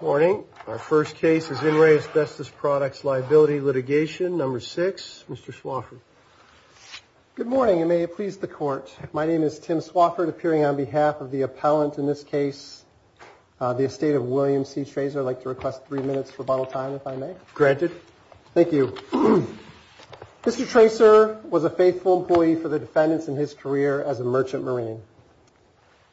Morning, our first case is In Re Asbestos Products Liability Litigation, number six, Mr. Swafford. Good morning, and may it please the court. My name is Tim Swafford, appearing on behalf of the appellant in this case, the estate of William C. Tracer. I'd like to request three minutes for bottle time, if I may. Granted. Thank you. Mr. Tracer was a faithful employee for the defendants in his career as a merchant marine.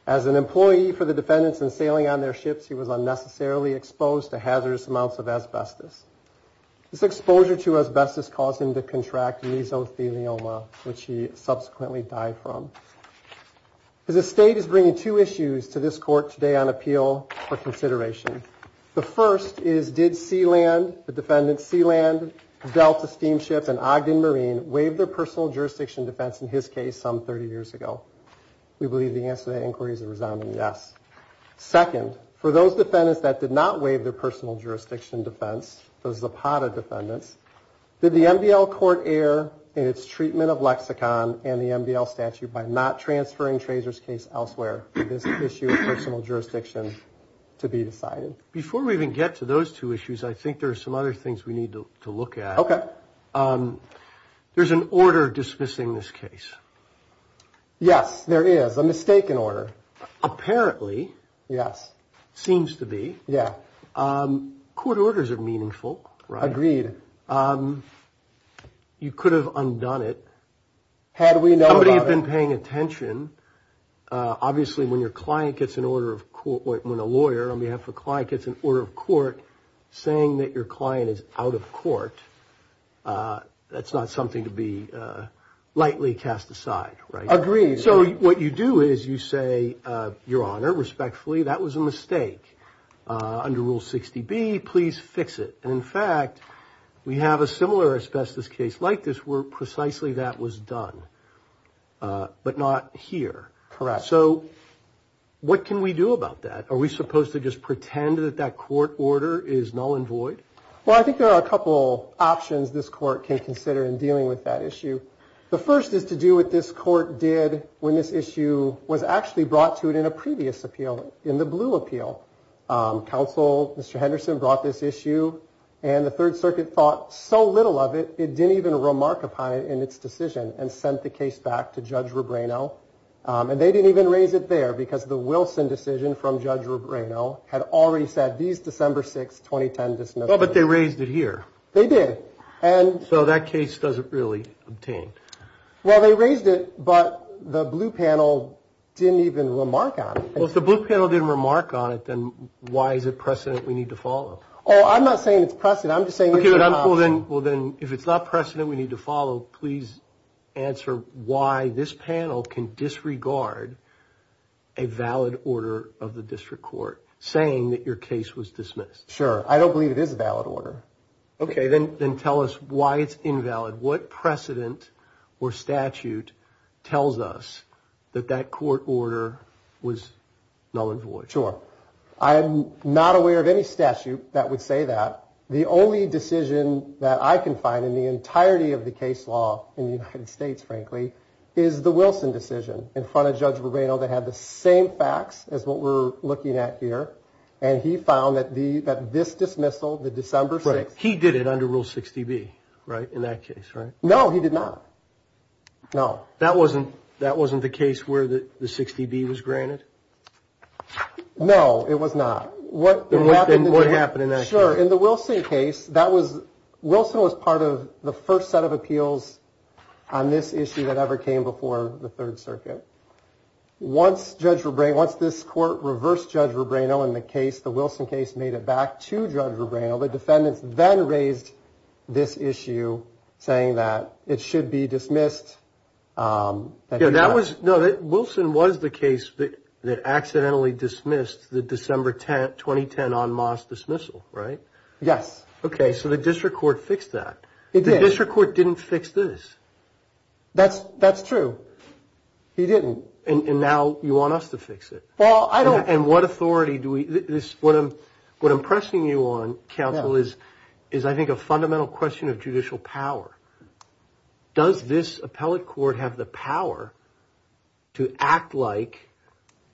As an employee for the defendants and sailing on their ships, he was unnecessarily exposed to hazardous amounts of asbestos. This exposure to asbestos caused him to contract mesothelioma, which he subsequently died from. His estate is bringing two issues to this court today on appeal for consideration. The first is, did Sealand, the defendants Sealand, Delta Steamships, and Ogden Marine waive their personal jurisdiction defense in his case some 30 years ago? We believe the answer to that inquiry is a resounding yes. Second, for those defendants that did not waive their personal jurisdiction defense, those Zapata defendants, did the MDL court err in its treatment of lexicon and the MDL statute by not transferring Tracer's case elsewhere for this issue of personal jurisdiction to be decided? Before we even get to those two issues, I think there are some other things we need to look at. Okay. There's an order dismissing this case. Yes, there is. A mistaken order. Apparently. Yes. Seems to be. Yeah. Court orders are meaningful. Agreed. You could have undone it. Had we known. Somebody had been paying attention. Obviously, when your client gets an order of court, when a lawyer on behalf of the client gets an order of court saying that your client is out of court, that's not something to be lightly cast aside, right? Agreed. So what you do is you say, your honor, respectfully, that was a mistake. Under Rule 60B, please fix it. And in fact, we have a similar asbestos case like this where precisely that was done, but not here. Correct. So what can we do about that? Are we supposed to just pretend that that court order is null and void? Well, there are a couple options this court can consider in dealing with that issue. The first is to do what this court did when this issue was actually brought to it in a previous appeal, in the Blue Appeal. Counsel, Mr. Henderson, brought this issue and the Third Circuit thought so little of it, it didn't even remark upon it in its decision and sent the case back to Judge Rebrano. And they didn't even raise it there because the Wilson decision from Judge Rebrano had already said, these December 6, 2010 dismissals. But they raised it here. They did. And so that case doesn't really obtain. Well, they raised it, but the Blue Panel didn't even remark on it. Well, if the Blue Panel didn't remark on it, then why is it precedent we need to follow? Oh, I'm not saying it's precedent. I'm just saying it's an option. Well, then, if it's not precedent we need to follow, please answer why this panel can disregard a valid order of the district court saying that your case was dismissed. Sure. I don't believe it is a valid order. Okay, then tell us why it's invalid. What precedent or statute tells us that that court order was null and void? Sure. I'm not aware of any statute that would say that. The only decision that I can find in the entirety of the case law in the United States, frankly, is the Wilson decision in front of Judge Rebrano that had the same facts as what we're looking at here. And he found that this dismissal, the December 6. He did it under Rule 60B, right, in that case, right? No, he did not. No. That wasn't the case where the 60B was granted? No, it was not. What happened in that case? Sure. In the Wilson case, that was, Wilson was part of the first set of appeals on this issue that ever came before the Third Circuit. Once Judge Rebrano, once this court reversed Judge Rebrano in the case, the Wilson case made it back to Judge Rebrano, the defendants then raised this issue saying that it should be dismissed. Yeah, that was, no, Wilson was the case that accidentally dismissed the December 10, 2010 en masse dismissal, right? Yes. Okay, so the district court fixed that. It did. The district court didn't fix this. That's true. He didn't. And now you want us to fix it. Well, I don't. And what authority do we, what I'm pressing you on, counsel, is I think a fundamental question of judicial power. Does this appellate court have the power to act like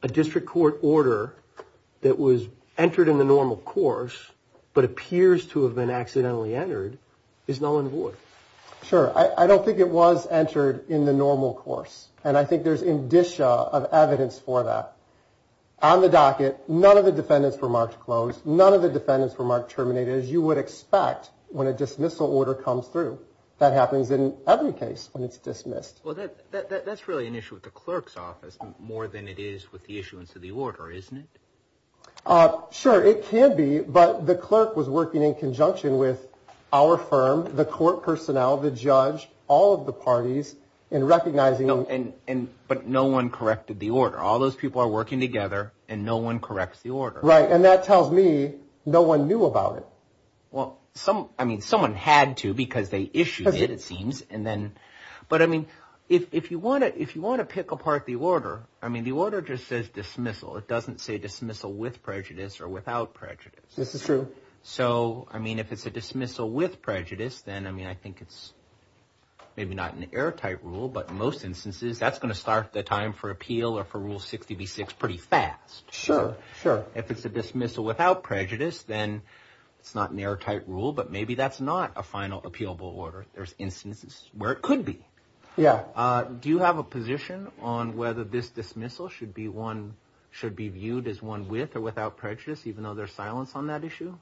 a district court order that was entered in the normal course, but appears to have been accidentally entered is null and void? Sure. I don't think it was entered in the normal course. And I think there's indicia of evidence for that. On the docket, none of the defendants were marked closed. None of the defendants were marked terminated, as you would expect when a dismissal order comes through. That happens in every case when it's dismissed. Well, that's really an issue with the clerk's office more than it is with the issuance of the order, isn't it? Sure, it can be. But the clerk was working in conjunction with our firm, the court personnel, the judge, all of the parties in recognizing. And but no one corrected the order. All those people are working together and no one corrects the order. Right. And that tells me no one knew about it. Well, some I mean, someone had to because they issued it, it seems. And then but I mean, if you want to if you want to pick apart the order, I mean, the order just says dismissal. It doesn't say dismissal with prejudice or without prejudice. This is true. So I mean, if it's a dismissal with prejudice, then I mean, I think it's maybe not an airtight rule. But in most instances, that's going to start the time for appeal or for rule sixty six pretty fast. Sure. Sure. If it's a dismissal without prejudice, then it's not an airtight rule. But maybe that's not a final appealable order. There's instances where it could be. Yeah. Do you have a position on whether this dismissal should be one should be viewed as one with or without prejudice, even though there's silence on that issue?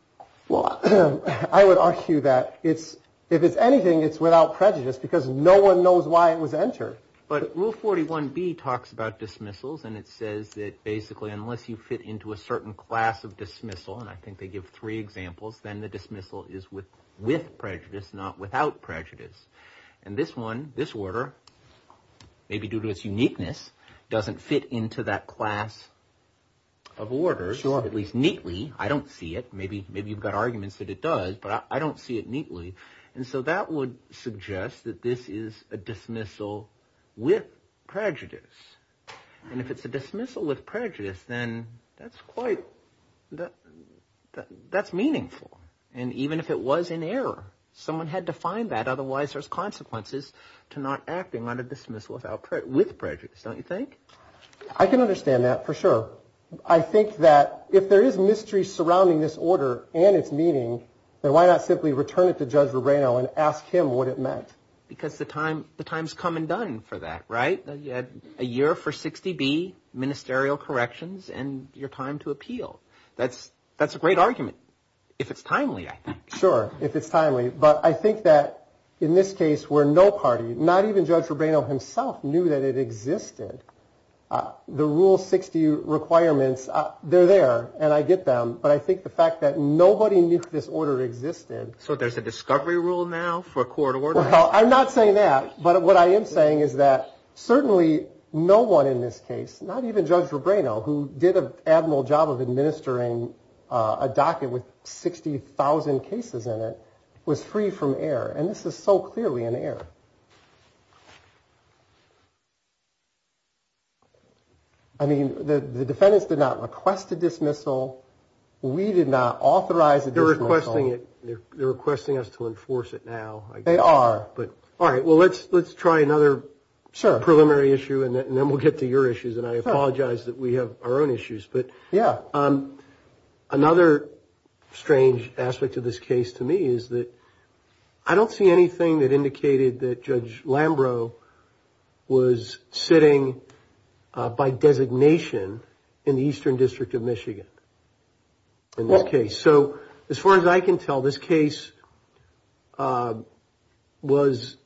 Well, I would argue that it's if it's anything, it's without prejudice because no one knows why it was entered. But rule forty one B talks about dismissals and it says that basically unless you fit into a certain class of dismissal, and I think they give three examples, then the dismissal is with with prejudice, not without prejudice. And this one, this order, maybe due to its uniqueness, doesn't fit into that class. Of order, at least neatly. I don't see it. Maybe maybe you've got arguments that it does, but I don't see it neatly. And so that would suggest that this is a dismissal with prejudice. And if it's a dismissal with prejudice, then that's quite that that's meaningful. And even if it was in error, someone had to find that. Otherwise, there's consequences to not acting on a dismissal without with prejudice, don't you think? I can understand that for sure. I think that if there is mystery surrounding this order and its meaning, then why not simply return it to Judge Rubino and ask him what it meant? Because the time the time's come and done for that. Right. You had a year for 60 B ministerial corrections and your time to appeal. That's that's a great argument. If it's timely, I think. Sure. If it's timely. But I think that in this case where no party, not even Judge Rubino himself knew that it existed, the rule 60 requirements. They're there and I get them. But I think the fact that nobody knew this order existed. So there's a discovery rule now for court order. I'm not saying that. But what I am saying is that certainly no one in this case, not even Judge Rubino, who did an admiral job of administering a docket with 60,000 cases in it, was free from error. And this is so clearly an error. I mean, the defendants did not request a dismissal. We did not authorize. They're requesting it. They're requesting us to enforce it now. They are. But. All right. Well, let's let's try another preliminary issue and then we'll get to your issues. And I apologize that we have our own issues. But, yeah, Another strange aspect of this case to me is that I don't see anything that indicated that Judge Lambrow was sitting by designation in the eastern district of Michigan. OK, so as far as I can tell, this case was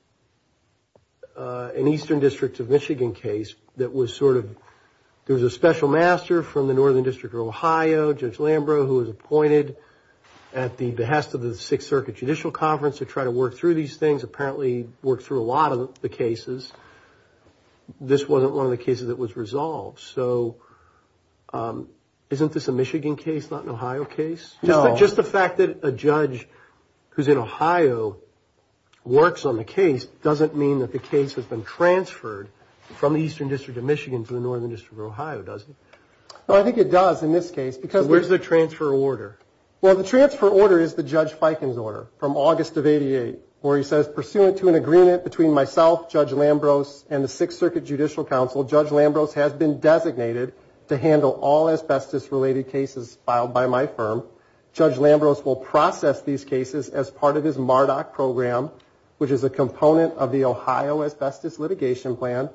an eastern district of Michigan case that was sort of. There was a special master from the northern district of Ohio. Judge Lambrow, who was appointed at the behest of the Sixth Circuit Judicial Conference to try to work through these things, apparently worked through a lot of the cases. This wasn't one of the cases that was resolved. So isn't this a Michigan case, not an Ohio case? No, just the fact that a judge who's in Ohio works on the case doesn't mean that the case has been transferred from the eastern district of Michigan to the northern district of Ohio, does it? Well, I think it does in this case, because where's the transfer order? Well, the transfer order is the Judge Fiken's order from August of 88, where he says, pursuant to an agreement between myself, Judge Lambrow's and the Sixth Circuit Judicial Council, Judge Lambrow's has been designated to handle all asbestos related cases filed by my firm. Judge Lambrow's will process these cases as part of his Marduk program, which is a component of the Ohio asbestos litigation plan,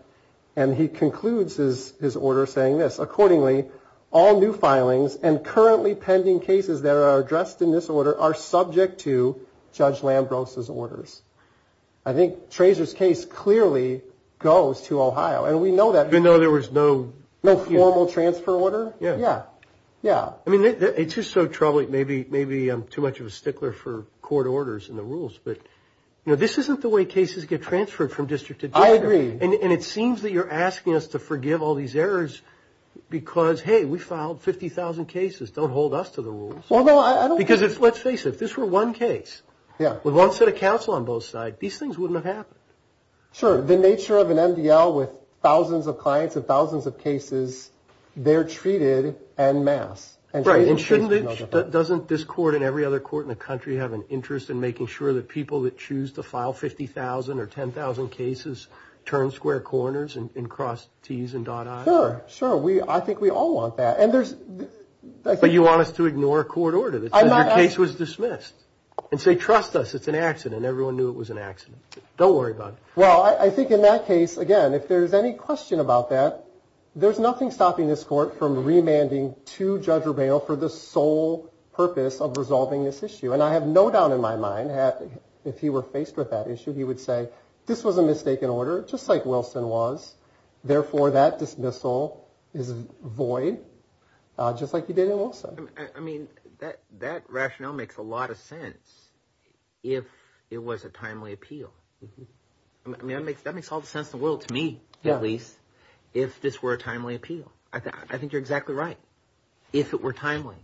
and he concludes his order saying this, accordingly, all new filings and currently pending cases that are addressed in this order are subject to Judge Lambrow's orders. I think Trazor's case clearly goes to Ohio, and we know that. Even though there was no... No formal transfer order? Yeah. Yeah. I mean, it's just so troubling, maybe I'm too much of a stickler for court orders and the rules, but this isn't the way cases get transferred from district to district. I agree. And it seems that you're asking us to forgive all these errors because, hey, we filed 50,000 cases. Don't hold us to the rules. Well, no, I don't... Because let's face it, if this were one case... Yeah. ...with one set of counsel on both sides, these things wouldn't have happened. Sure. The nature of an MDL with thousands of clients and thousands of cases, they're treated en masse. Right. And shouldn't it, doesn't this court and every other court in the country have an interest in making sure that people that choose to file 50,000 or 10,000 cases turn square corners and cross Ts and dot Is? Sure, sure. I think we all want that. And there's... But you want us to ignore a court order that says your case was dismissed and say, It's an accident. Everyone knew it was an accident. Don't worry about it. Well, I think in that case, again, if there's any question about that, there's nothing stopping this court from remanding to Judge Rubeo for the sole purpose of resolving this issue. And I have no doubt in my mind that if he were faced with that issue, he would say, this was a mistaken order, just like Wilson was. Therefore, that dismissal is void, just like you did in Wilson. I mean, that rationale makes a lot of sense if it was a timely appeal. I mean, that makes all the sense in the world to me, at least, if this were a timely appeal. I think you're exactly right, if it were timely.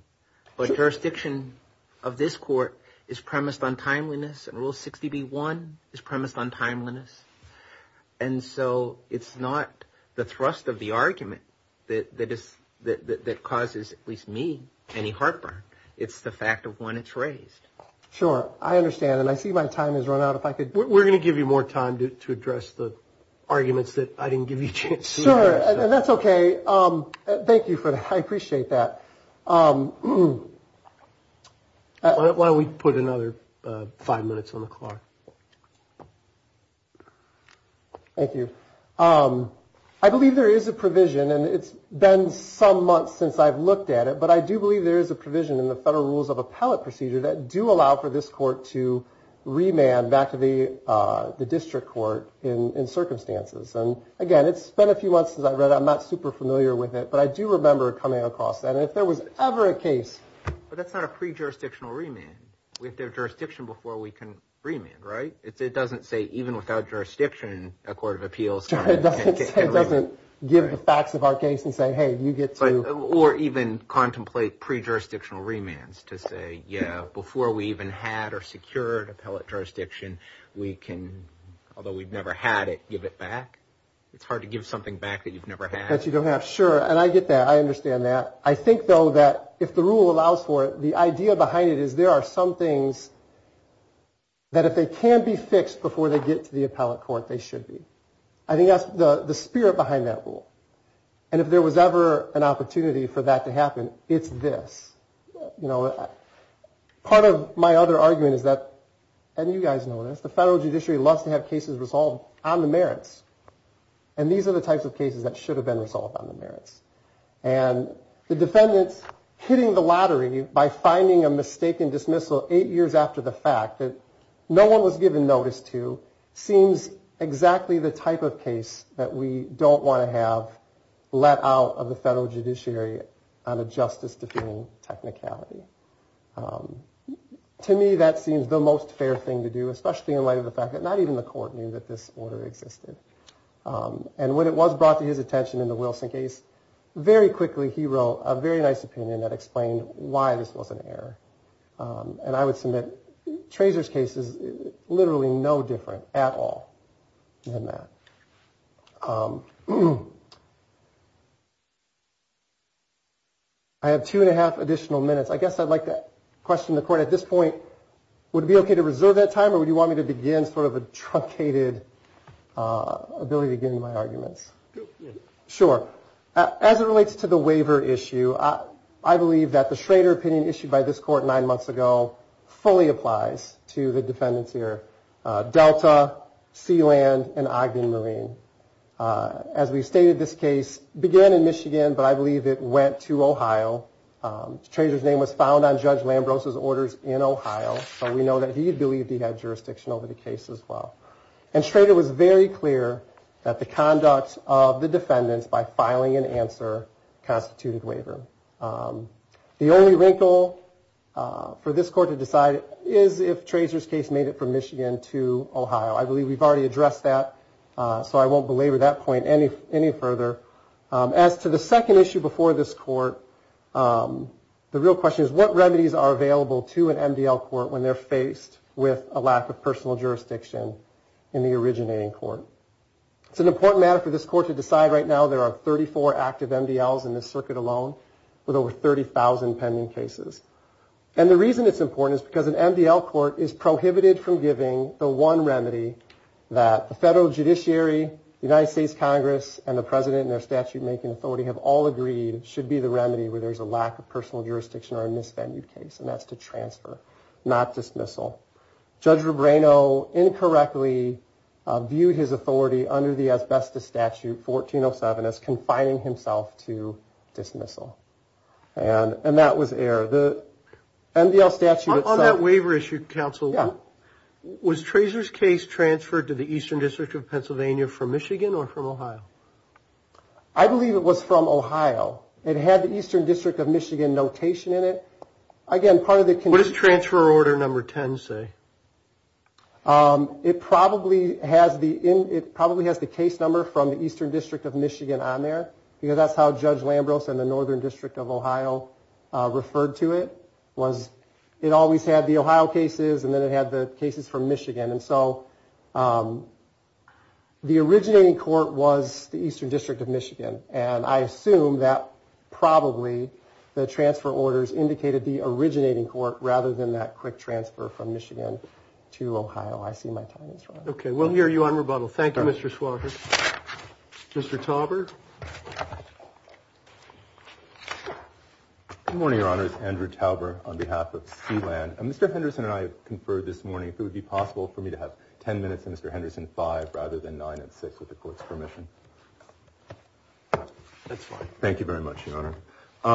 But jurisdiction of this court is premised on timeliness, and Rule 60b-1 is premised on timeliness. And so it's not the thrust of the argument that causes, at least me, any heartburn. It's the fact of when it's raised. Sure, I understand. And I see my time has run out. We're going to give you more time to address the arguments that I didn't give you a chance to address. Sure, and that's okay. Thank you for that. I appreciate that. Why don't we put another five minutes on the clock? Thank you. I believe there is a provision, and it's been some months since I've looked at it, but I do believe there is a provision in the Federal Rules of Appellate Procedure that do allow for this court to remand back to the district court in circumstances. And, again, it's been a few months since I read it. I'm not super familiar with it, but I do remember coming across that. And if there was ever a case. But that's not a pre-jurisdictional remand. We have to have jurisdiction before we can remand, right? It doesn't say even without jurisdiction, a court of appeals can remand. It doesn't give the facts of our case and say, hey, you get to. Or even contemplate pre-jurisdictional remands to say, yeah, before we even had or secured appellate jurisdiction, we can, although we've never had it, give it back. It's hard to give something back that you've never had. That you don't have. Sure, and I get that. I understand that. I think, though, that if the rule allows for it, the idea behind it is there are some things that if they can be fixed before they get to the appellate court, they should be. I think that's the spirit behind that rule. And if there was ever an opportunity for that to happen, it's this. You know, part of my other argument is that, and you guys know this, the federal judiciary loves to have cases resolved on the merits. And these are the types of cases that should have been resolved on the merits. And the defendants hitting the lottery by finding a mistaken dismissal eight years after the fact that no one was given notice to seems exactly the type of case that we don't want to have let out of the federal judiciary on a justice-defending technicality. To me, that seems the most fair thing to do, especially in light of the fact that not even the court knew that this order existed. And when it was brought to his attention in the Wilson case, very quickly he wrote a very nice opinion that explained why this was an error. And I would submit Trazer's case is literally no different at all than that. I have two and a half additional minutes. I guess I'd like to question the court at this point. Would it be okay to reserve that time, or would you want me to begin sort of a truncated ability to get into my arguments? Sure. As it relates to the waiver issue, I believe that the Schrader opinion issued by this court nine months ago fully applies to the defendants here, Delta, Sealand, and Ogden Marine. As we stated, this case began in Michigan, but I believe it went to Ohio. Trazer's name was found on Judge Lambros' orders in Ohio, so we know that he believed he had jurisdiction over the case as well. And Schrader was very clear that the conduct of the defendants by filing an answer constituted waiver. The only wrinkle for this court to decide is if Trazer's case made it from Michigan to Ohio. I believe we've already addressed that, so I won't belabor that point any further. As to the second issue before this court, the real question is, what remedies are available to an MDL court when they're faced with a lack of personal jurisdiction in the originating court? It's an important matter for this court to decide right now. There are 34 active MDLs in this circuit alone, with over 30,000 pending cases. And the reason it's important is because an MDL court is prohibited from giving the one remedy that the federal judiciary, the United States Congress, and the president and their statute-making authority have all agreed should be the remedy where there's a lack of personal jurisdiction or a misvenued case, and that's to transfer, not dismissal. Judge Rebrano incorrectly viewed his authority under the asbestos statute, 1407, as confining himself to dismissal. And that was error. The MDL statute itself. On that waiver issue, Counsel, was Trazer's case transferred to the Eastern District of Pennsylvania from Michigan or from Ohio? I believe it was from Ohio. It had the Eastern District of Michigan notation in it. Again, part of the condition. What does transfer order number 10 say? It probably has the case number from the Eastern District of Michigan on there, because that's how Judge Lambros and the Northern District of Ohio referred to it, was it always had the Ohio cases and then it had the cases from Michigan. And so the originating court was the Eastern District of Michigan, and I assume that probably the transfer orders indicated the originating court rather than that quick transfer from Michigan to Ohio. I see my time is running out. Okay. We'll hear you on rebuttal. Thank you, Mr. Schwager. Mr. Tauber? Good morning, Your Honor. It's Andrew Tauber on behalf of Sea Land. Mr. Henderson and I conferred this morning if it would be possible for me to have 10 minutes and Mr. Henderson five rather than nine and six with the court's permission. That's fine. Thank you very much, Your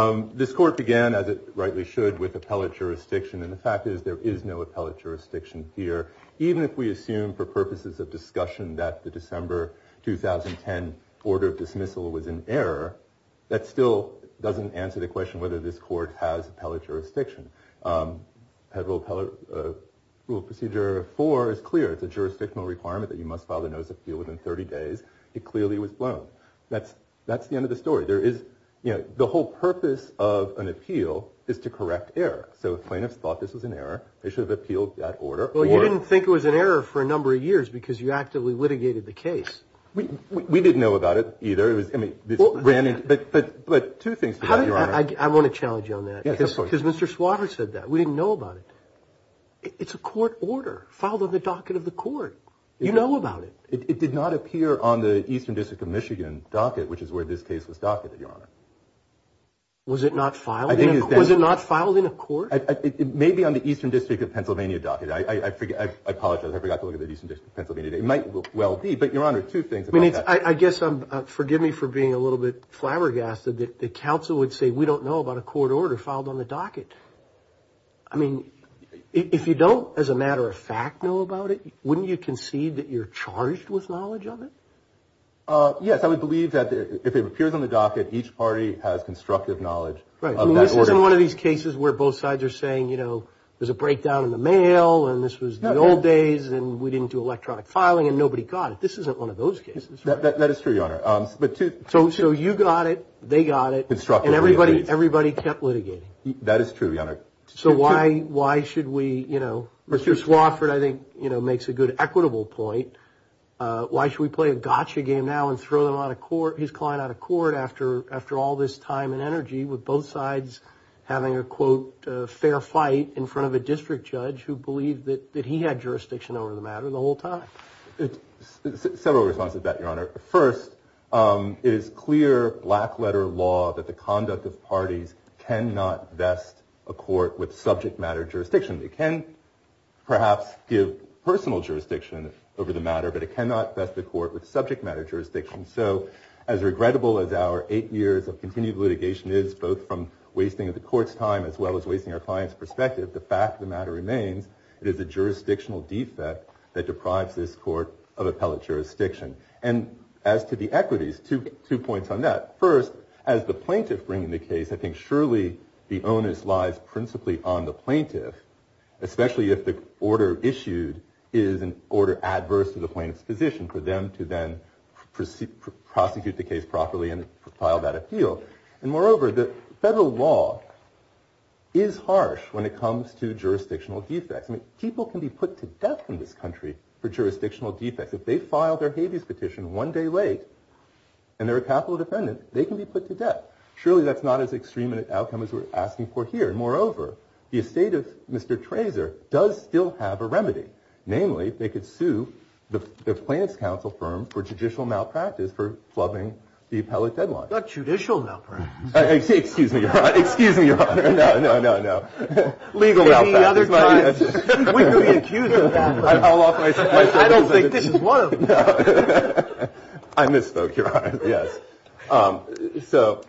Honor. This court began, as it rightly should, with appellate jurisdiction, and the fact is there is no appellate jurisdiction here, even if we assume for purposes of discussion that the December 2010 order of dismissal was an error, that still doesn't answer the question whether this court has appellate jurisdiction. Federal Appellate Procedure 4 is clear. It's a jurisdictional requirement that you must file a notice of appeal within 30 days. It clearly was blown. That's the end of the story. The whole purpose of an appeal is to correct error. So if plaintiffs thought this was an error, they should have appealed that order. Well, you didn't think it was an error for a number of years because you actively litigated the case. We didn't know about it either. But two things to that, Your Honor. I want to challenge you on that because Mr. Swatter said that. We didn't know about it. It's a court order filed on the docket of the court. You know about it. It did not appear on the Eastern District of Michigan docket, which is where this case was docketed, Your Honor. Was it not filed in a court? It may be on the Eastern District of Pennsylvania docket. I apologize. I forgot to look at the Eastern District of Pennsylvania. It might well be, but, Your Honor, two things about that. I guess, forgive me for being a little bit flabbergasted, that counsel would say we don't know about a court order filed on the docket. I mean, if you don't, as a matter of fact, know about it, wouldn't you concede that you're charged with knowledge of it? Yes, I would believe that if it appears on the docket, each party has constructive knowledge of that order. Right. I mean, this isn't one of these cases where both sides are saying, you know, there's a breakdown in the mail and this was the old days and we didn't do electronic filing and nobody got it. This isn't one of those cases. That is true, Your Honor. So you got it, they got it, and everybody kept litigating. That is true, Your Honor. So why should we, you know, Mr. Swafford, I think, you know, makes a good equitable point. Why should we play a gotcha game now and throw his client out of court after all this time and energy with both sides having a, quote, fair fight in front of a district judge who believed that he had jurisdiction over the matter the whole time? Several responses to that, Your Honor. First, it is clear black letter law that the conduct of parties cannot vest a court with subject matter jurisdiction. It can perhaps give personal jurisdiction over the matter, but it cannot vest the court with subject matter jurisdiction. So as regrettable as our eight years of continued litigation is, both from wasting the court's time as well as wasting our client's perspective, the fact of the matter remains it is a jurisdictional defect that deprives this court of appellate jurisdiction. And as to the equities, two points on that. First, as the plaintiff bringing the case, I think surely the onus lies principally on the plaintiff, especially if the order issued is an order adverse to the plaintiff's position for them to then prosecute the case properly and file that appeal. And moreover, the federal law is harsh when it comes to jurisdictional defects. I mean, people can be put to death in this country for jurisdictional defects. If they file their habeas petition one day late and they're a capital defendant, they can be put to death. Surely that's not as extreme an outcome as we're asking for here. And moreover, the estate of Mr. Trazer does still have a remedy. Namely, they could sue the plaintiff's counsel firm for judicial malpractice for flubbing the appellate deadline. Not judicial malpractice. Excuse me, Your Honor. Excuse me, Your Honor. No, no, no, no. Legal malpractice. Any other time we could be accused of malpractice. I don't think this is one of them. I misspoke, Your Honor. Yes. So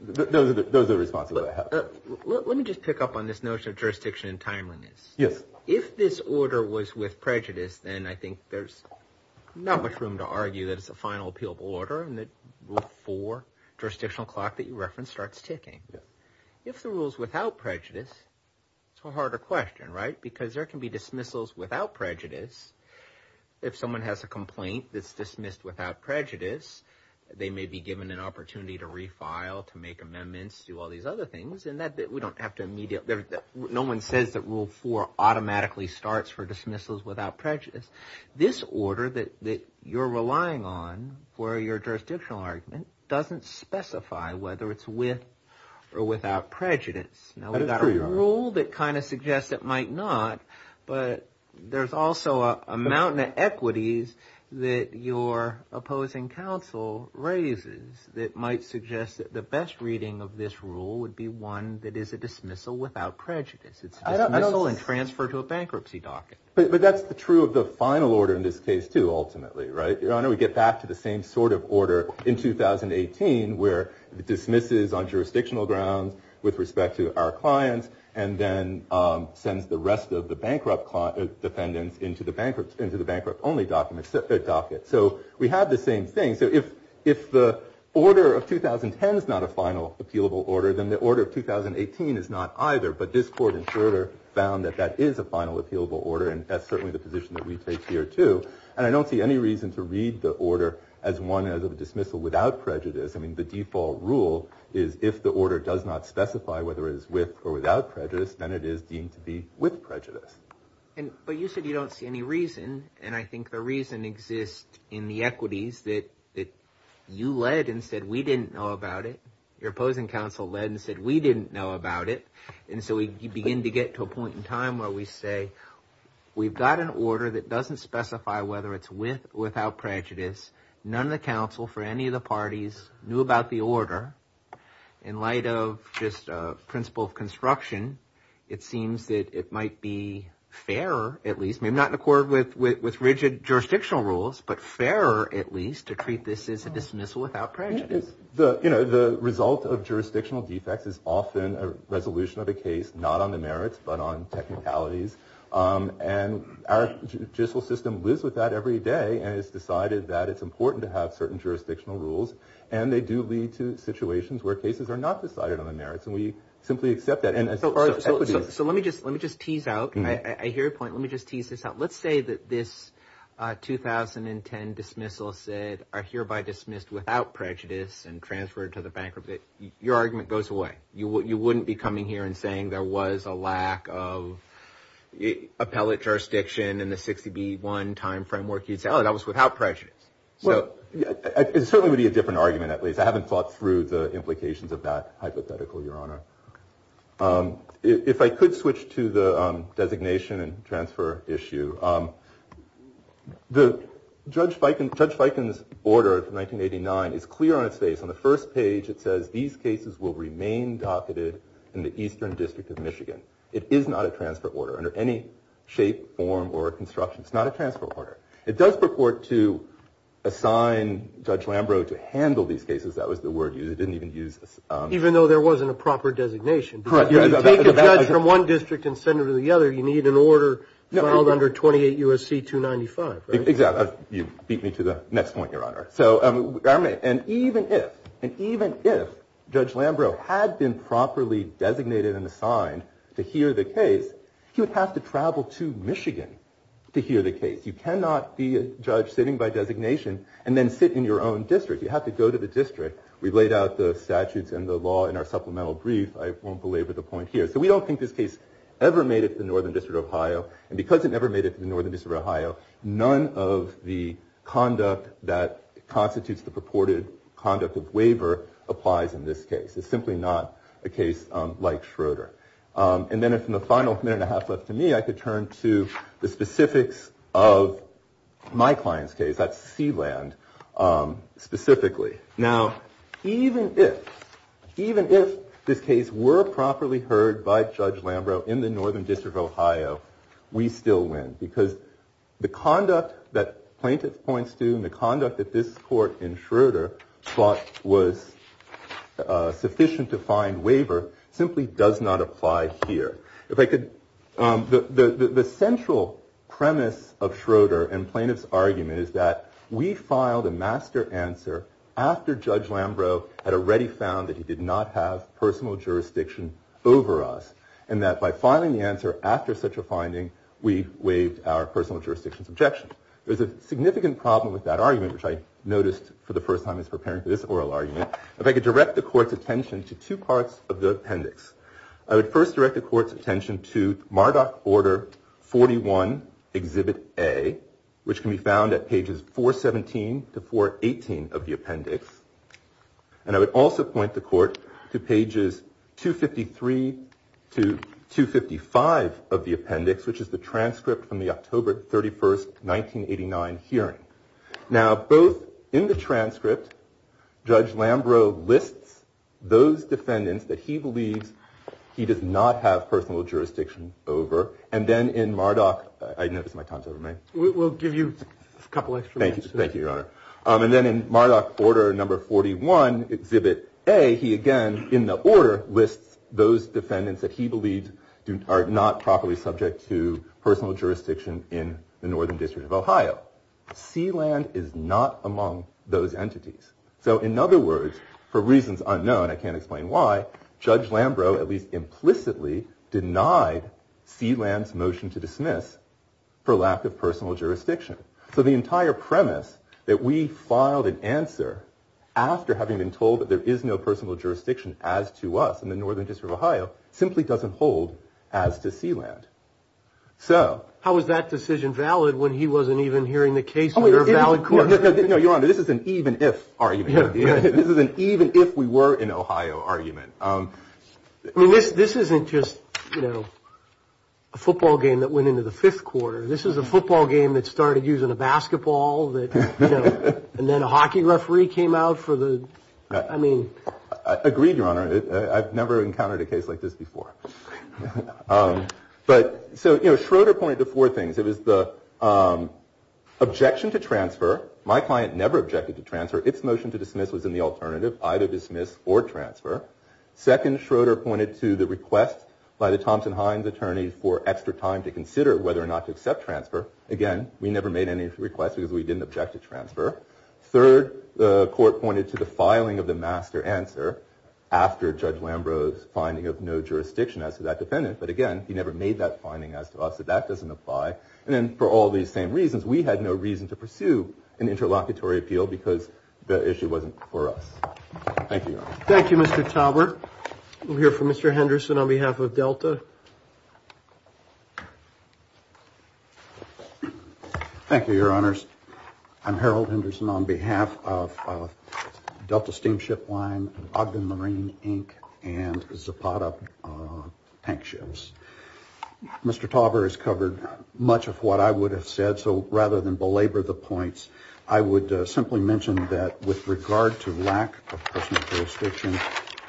those are the responses I have. Let me just pick up on this notion of jurisdiction and timeliness. Yes. If this order was with prejudice, then I think there's not much room to argue that it's a final appealable order and that Rule 4 jurisdictional clock that you referenced starts ticking. Yes. If the rule's without prejudice, it's a harder question, right? Because there can be dismissals without prejudice. If someone has a complaint that's dismissed without prejudice, they may be given an opportunity to refile, to make amendments, do all these other things. And we don't have to immediately. No one says that Rule 4 automatically starts for dismissals without prejudice. This order that you're relying on for your jurisdictional argument doesn't specify whether it's with or without prejudice. That is true, Your Honor. Now, we've got a rule that kind of suggests it might not, but there's also a mountain of equities that your opposing counsel raises that might suggest that the best reading of this rule would be one that is a dismissal without prejudice. It's a dismissal and transfer to a bankruptcy docket. But that's true of the final order in this case, too, ultimately, right? Your Honor, we get back to the same sort of order in 2018 where it dismisses on jurisdictional grounds with respect to our clients and then sends the rest of the bankrupt defendants into the bankrupt-only docket. So we have the same thing. So if the order of 2010 is not a final appealable order, then the order of 2018 is not either. But this court in shorter found that that is a final appealable order, and that's certainly the position that we take here, too. And I don't see any reason to read the order as one as a dismissal without prejudice. I mean, the default rule is if the order does not specify whether it is with or without prejudice, then it is deemed to be with prejudice. But you said you don't see any reason, and I think the reason exists in the equities that you led and said we didn't know about it. Your opposing counsel led and said we didn't know about it. And so we begin to get to a point in time where we say we've got an order that doesn't specify whether it's with or without prejudice. None of the counsel for any of the parties knew about the order. In light of just principle of construction, it seems that it might be fairer at least, maybe not in accord with rigid jurisdictional rules, but fairer at least to treat this as a dismissal without prejudice. The result of jurisdictional defects is often a resolution of a case not on the merits but on technicalities. And our judicial system lives with that every day and has decided that it's important to have certain jurisdictional rules. And they do lead to situations where cases are not decided on the merits, and we simply accept that. So let me just tease out. I hear your point. Let me just tease this out. Let's say that this 2010 dismissal said are hereby dismissed without prejudice and transferred to the bankruptcy. Your argument goes away. You wouldn't be coming here and saying there was a lack of appellate jurisdiction in the 60B1 time framework. You'd say, oh, that was without prejudice. It certainly would be a different argument, at least. I haven't thought through the implications of that hypothetical, Your Honor. If I could switch to the designation and transfer issue. Judge Feikin's order from 1989 is clear on its face. On the first page it says, these cases will remain docketed in the Eastern District of Michigan. It is not a transfer order under any shape, form, or construction. It's not a transfer order. It does purport to assign Judge Lambrou to handle these cases. That was the word used. It didn't even use this. Even though there wasn't a proper designation. If you take a judge from one district and send him to the other, you need an order filed under 28 U.S.C. 295, right? Exactly. You beat me to the next point, Your Honor. And even if Judge Lambrou had been properly designated and assigned to hear the case, he would have to travel to Michigan to hear the case. You cannot be a judge sitting by designation and then sit in your own district. You have to go to the district. We've laid out the statutes and the law in our supplemental brief. I won't belabor the point here. So we don't think this case ever made it to the Northern District of Ohio. And because it never made it to the Northern District of Ohio, none of the conduct that constitutes the purported conduct of waiver applies in this case. It's simply not a case like Schroeder. And then from the final minute and a half left to me, I could turn to the specifics of my client's case, that's Sealand, specifically. Now, even if this case were properly heard by Judge Lambrou in the Northern District of Ohio, we still win because the conduct that plaintiff points to and the conduct that this court in Schroeder thought was sufficient to find waiver simply does not apply here. The central premise of Schroeder and plaintiff's argument is that we filed a master answer after Judge Lambrou had already found that he did not have personal jurisdiction over us, and that by filing the answer after such a finding, we waived our personal jurisdiction's objection. There's a significant problem with that argument, which I noticed for the first time as preparing for this oral argument. If I could direct the court's attention to two parts of the appendix, I would first direct the court's attention to Marduk Order 41, Exhibit A, which can be found at pages 417 to 418 of the appendix, and I would also point the court to pages 253 to 255 of the appendix, which is the transcript from the October 31st, 1989 hearing. Now, both in the transcript, Judge Lambrou lists those defendants that he believes he does not have personal jurisdiction over, and then in Marduk Order 41, Exhibit A, he again, in the order, lists those defendants that he believes are not properly subject to personal jurisdiction in the Northern District of Ohio. Sealand is not among those entities. So in other words, for reasons unknown, I can't explain why, Judge Lambrou at least implicitly denied Sealand's motion to dismiss for lack of personal jurisdiction. So the entire premise that we filed an answer after having been told that there is no personal jurisdiction as to us in the Northern District of Ohio simply doesn't hold as to Sealand. So... How was that decision valid when he wasn't even hearing the case under a valid court? No, Your Honor, this is an even if argument. This is an even if we were in Ohio argument. I mean, this isn't just, you know, a football game that went into the fifth quarter. This is a football game that started using a basketball, and then a hockey referee came out for the... I mean... Agreed, Your Honor. I've never encountered a case like this before. But so, you know, Schroeder pointed to four things. It was the objection to transfer. My client never objected to transfer. Its motion to dismiss was in the alternative. Either dismiss or transfer. Second, Schroeder pointed to the request by the Thompson-Hines attorney for extra time to consider whether or not to accept transfer. Again, we never made any requests because we didn't object to transfer. Third, the court pointed to the filing of the master answer after Judge Lambrow's finding of no jurisdiction as to that defendant. But again, he never made that finding as to us, so that doesn't apply. And then for all these same reasons, we had no reason to pursue an interlocutory appeal because the issue wasn't for us. Thank you, Your Honor. Thank you, Mr. Tauber. We'll hear from Mr. Henderson on behalf of Delta. Thank you, Your Honors. I'm Harold Henderson on behalf of Delta Steamship Line, Ogden Marine, Inc., and Zapata Tank Ships. Mr. Tauber has covered much of what I would have said, so rather than belabor the points, I would simply mention that with regard to lack of personal jurisdiction,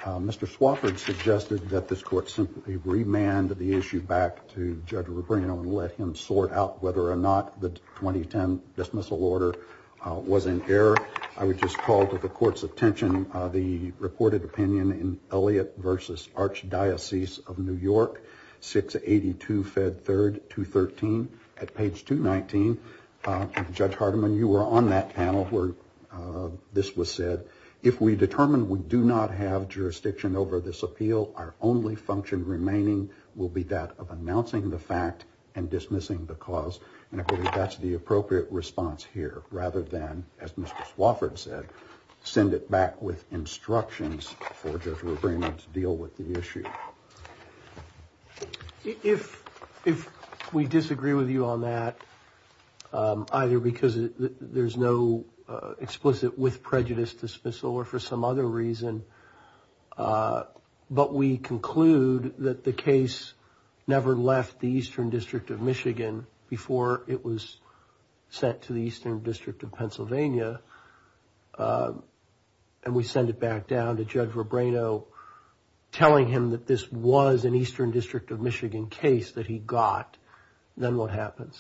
Mr. Swafford suggested that this court simply remand the issue back to Judge Rubino and let him sort out whether or not the 2010 dismissal order was in error. I would just call to the court's attention the reported opinion in Elliott v. Archdiocese of New York, 682 Fed 3, 213. At page 219, Judge Hardiman, you were on that panel where this was said, if we determine we do not have jurisdiction over this appeal, our only function remaining will be that of announcing the fact and dismissing the cause. And I believe that's the appropriate response here, rather than, as Mr. Swafford said, send it back with instructions for Judge Rubino to deal with the issue. If we disagree with you on that, either because there's no explicit with prejudice dismissal or for some other reason, but we conclude that the case never left the Eastern District of Michigan before it was sent to the Eastern District of Pennsylvania, and we send it back down to Judge Rubino, telling him that this was an Eastern District of Michigan case that he got, then what happens?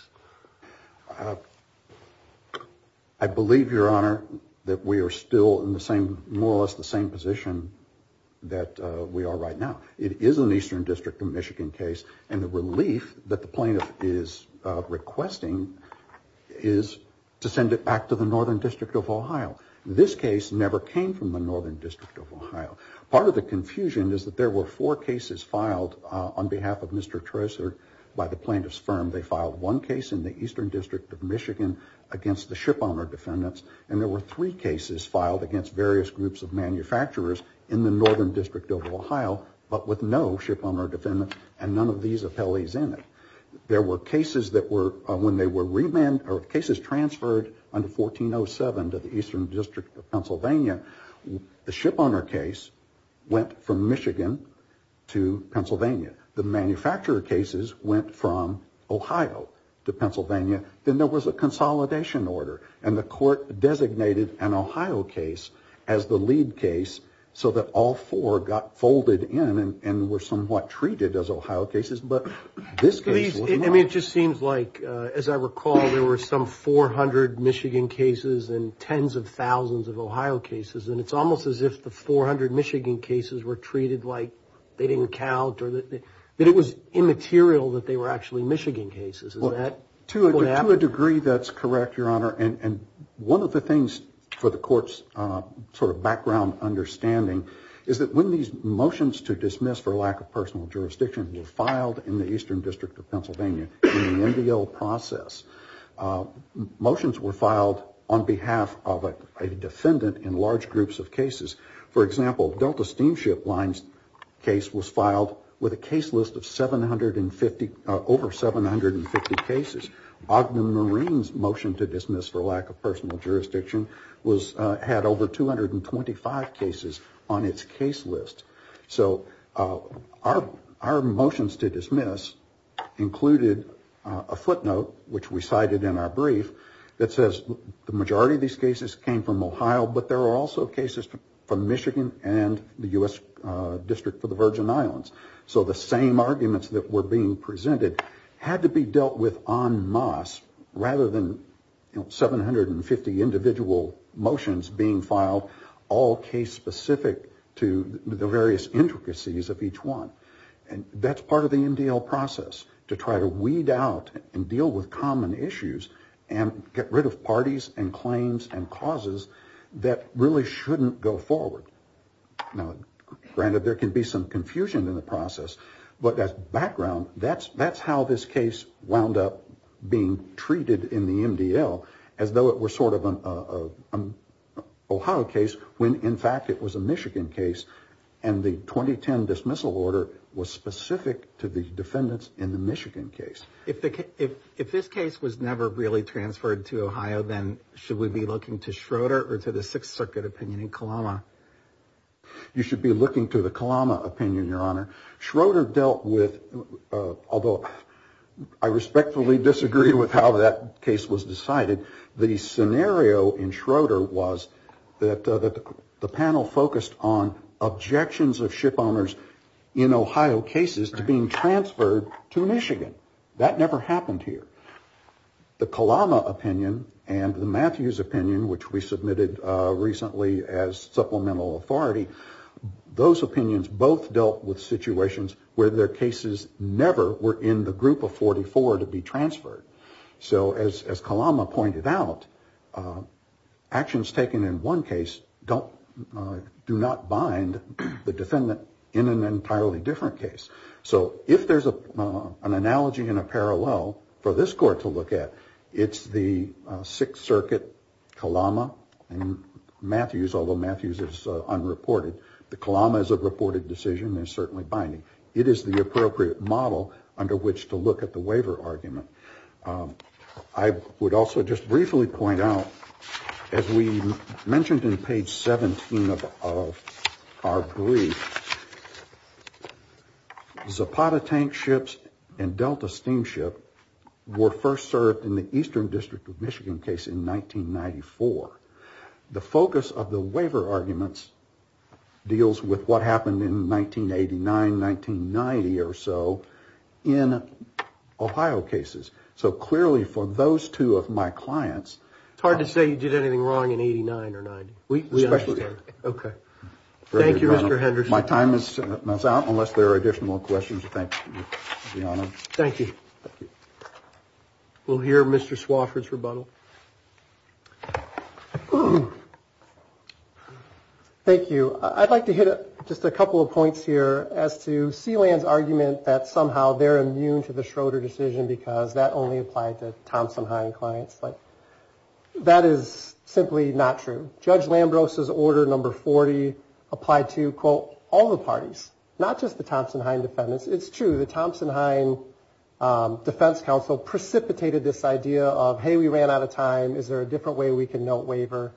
I believe, Your Honor, that we are still in the same, more or less the same position that we are right now. It is an Eastern District of Michigan case, and the relief that the plaintiff is requesting is to send it back to the Northern District of Ohio. This case never came from the Northern District of Ohio. Part of the confusion is that there were four cases filed on behalf of Mr. Treasurer by the plaintiff's firm. They filed one case in the Eastern District of Michigan against the shipowner defendants, and there were three cases filed against various groups of manufacturers in the Northern District of Ohio, but with no shipowner defendants, and none of these appellees in it. There were cases that were, when they were remanded, or cases transferred under 1407 to the Eastern District of Pennsylvania, the shipowner case went from Michigan to Pennsylvania. The manufacturer cases went from Ohio to Pennsylvania. Then there was a consolidation order, and the court designated an Ohio case as the lead case so that all four got folded in and were somewhat treated as Ohio cases, but this case was not. I mean, it just seems like, as I recall, there were some 400 Michigan cases and tens of thousands of Ohio cases, and it's almost as if the 400 Michigan cases were treated like they didn't count, that it was immaterial that they were actually Michigan cases. Is that what happened? To a degree, that's correct, Your Honor, and one of the things for the court's sort of background understanding is that when these motions to dismiss for lack of personal jurisdiction were filed in the Eastern District of Pennsylvania in the NBL process, motions were filed on behalf of a defendant in large groups of cases. For example, Delta Steamship Line's case was filed with a case list of over 750 cases. Ogden Marine's motion to dismiss for lack of personal jurisdiction had over 225 cases on its case list. So our motions to dismiss included a footnote, which we cited in our brief, that says the majority of these cases came from Ohio, but there were also cases from Michigan and the U.S. District for the Virgin Islands. So the same arguments that were being presented had to be dealt with en masse rather than 750 individual motions being filed, all case-specific to the various intricacies of each one. That's part of the MDL process, to try to weed out and deal with common issues and get rid of parties and claims and causes that really shouldn't go forward. Now, granted, there can be some confusion in the process, but as background, that's how this case wound up being treated in the MDL as though it were sort of an Ohio case when, in fact, it was a Michigan case and the 2010 dismissal order was specific to the defendants in the Michigan case. If this case was never really transferred to Ohio, then should we be looking to Schroeder or to the Sixth Circuit opinion in Kalama? You should be looking to the Kalama opinion, Your Honor. Schroeder dealt with, although I respectfully disagree with how that case was decided, the scenario in Schroeder was that the panel focused on objections of ship owners in Ohio cases to being transferred to Michigan. That never happened here. The Kalama opinion and the Matthews opinion, which we submitted recently as supplemental authority, those opinions both dealt with situations where their cases never were in the group of 44 to be transferred. So as Kalama pointed out, actions taken in one case do not bind the defendant in an entirely different case. So if there's an analogy and a parallel for this court to look at, it's the Sixth Circuit Kalama and Matthews, although Matthews is unreported. The Kalama is a reported decision and is certainly binding. It is the appropriate model under which to look at the waiver argument. I would also just briefly point out, as we mentioned in page 17 of our brief, Zapata tank ships and Delta steamship were first served in the Eastern District of Michigan case in 1994. The focus of the waiver arguments deals with what happened in 1989, 1990 or so in Ohio cases. So clearly for those two of my clients... It's hard to say you did anything wrong in 89 or 90. We understand. Okay. Thank you, Mr. Henderson. My time is out unless there are additional questions. Thank you. We'll hear Mr. Swofford's rebuttal. Thank you. I'd like to hit just a couple of points here as to Sealand's argument that somehow they're immune to the Schroeder decision because that only applied to Thompson-Heinz clients. That is simply not true. Judge Lambros' Order No. 40 applied to, quote, all the parties, not just the Thompson-Heinz defendants. It's true. The Thompson-Heinz Defense Council precipitated this idea of, hey, we ran out of time. Is there a different way we can note waiver?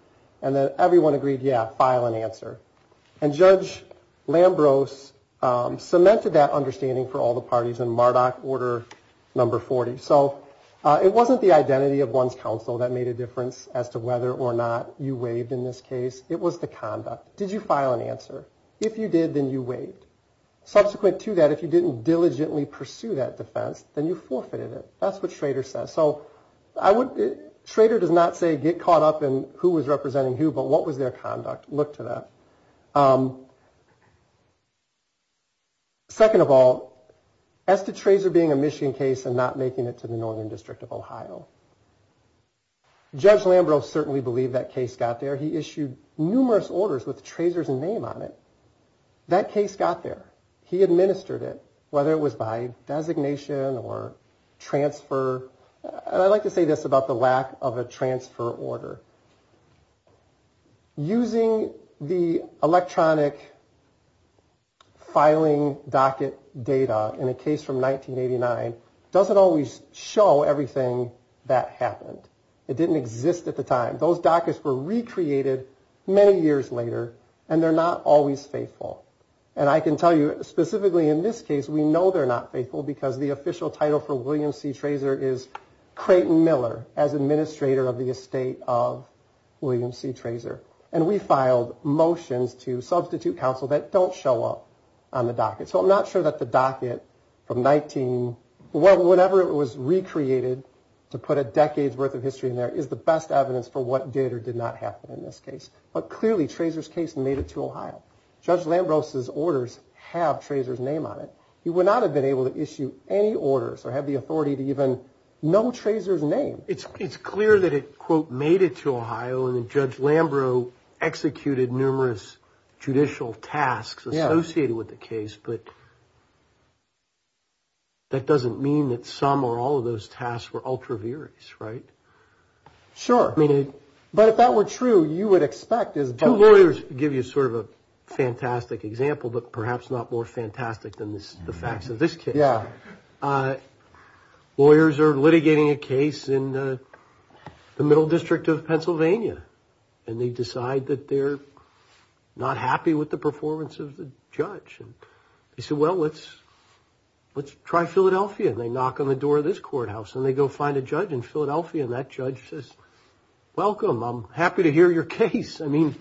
And then everyone agreed, yeah, file an answer. And Judge Lambros cemented that understanding for all the parties in Mardoch Order No. 40. So it wasn't the identity of one's counsel that made a difference as to whether or not you waived in this case. It was the conduct. Did you file an answer? If you did, then you waived. Subsequent to that, if you didn't diligently pursue that defense, then you forfeited it. That's what Schroeder says. So Schroeder does not say get caught up in who was representing who, but what was their conduct? Look to that. Second of all, as to Trazer being a Michigan case and not making it to the Northern District of Ohio, Judge Lambros certainly believed that case got there. He issued numerous orders with Trazer's name on it. That case got there. He administered it, whether it was by designation or transfer. And I like to say this about the lack of a transfer order. Using the electronic filing docket data in a case from 1989 doesn't always show everything that happened. It didn't exist at the time. Those dockets were recreated many years later, and they're not always faithful. And I can tell you specifically in this case, we know they're not faithful because the official title for William C. Trazer, and we filed motions to substitute counsel that don't show up on the docket. So I'm not sure that the docket from 19, well, whenever it was recreated to put a decade's worth of history in there, is the best evidence for what did or did not happen in this case. But clearly Trazer's case made it to Ohio. Judge Lambros's orders have Trazer's name on it. He would not have been able to issue any orders or have the authority to even know Trazer's name. It's clear that it, quote, made it to Ohio. And then Judge Lambros executed numerous judicial tasks associated with the case. But that doesn't mean that some or all of those tasks were ultra viris, right? Sure. But if that were true, you would expect. Two lawyers give you sort of a fantastic example, but perhaps not more fantastic than the facts of this case. Yeah. They're in the middle district of Pennsylvania, and they decide that they're not happy with the performance of the judge. And they say, well, let's try Philadelphia. And they knock on the door of this courthouse, and they go find a judge in Philadelphia, and that judge says, welcome, I'm happy to hear your case. I mean,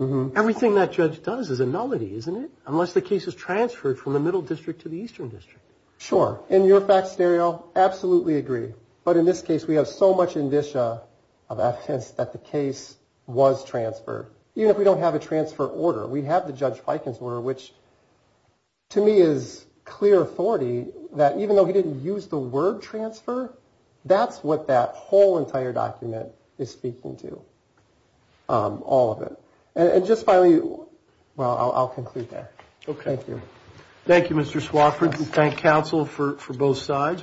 everything that judge does is a nullity, isn't it? Unless the case is transferred from the middle district to the eastern district. Sure. In your fact stereo, absolutely agree. But in this case, we have so much indicia of evidence that the case was transferred. Even if we don't have a transfer order. We have the Judge Fiken's order, which to me is clear authority that even though he didn't use the word transfer, that's what that whole entire document is speaking to. All of it. And just finally, well, I'll conclude there. Okay. Thank you. Thank you, Mr. Swafford. Thank counsel for both sides.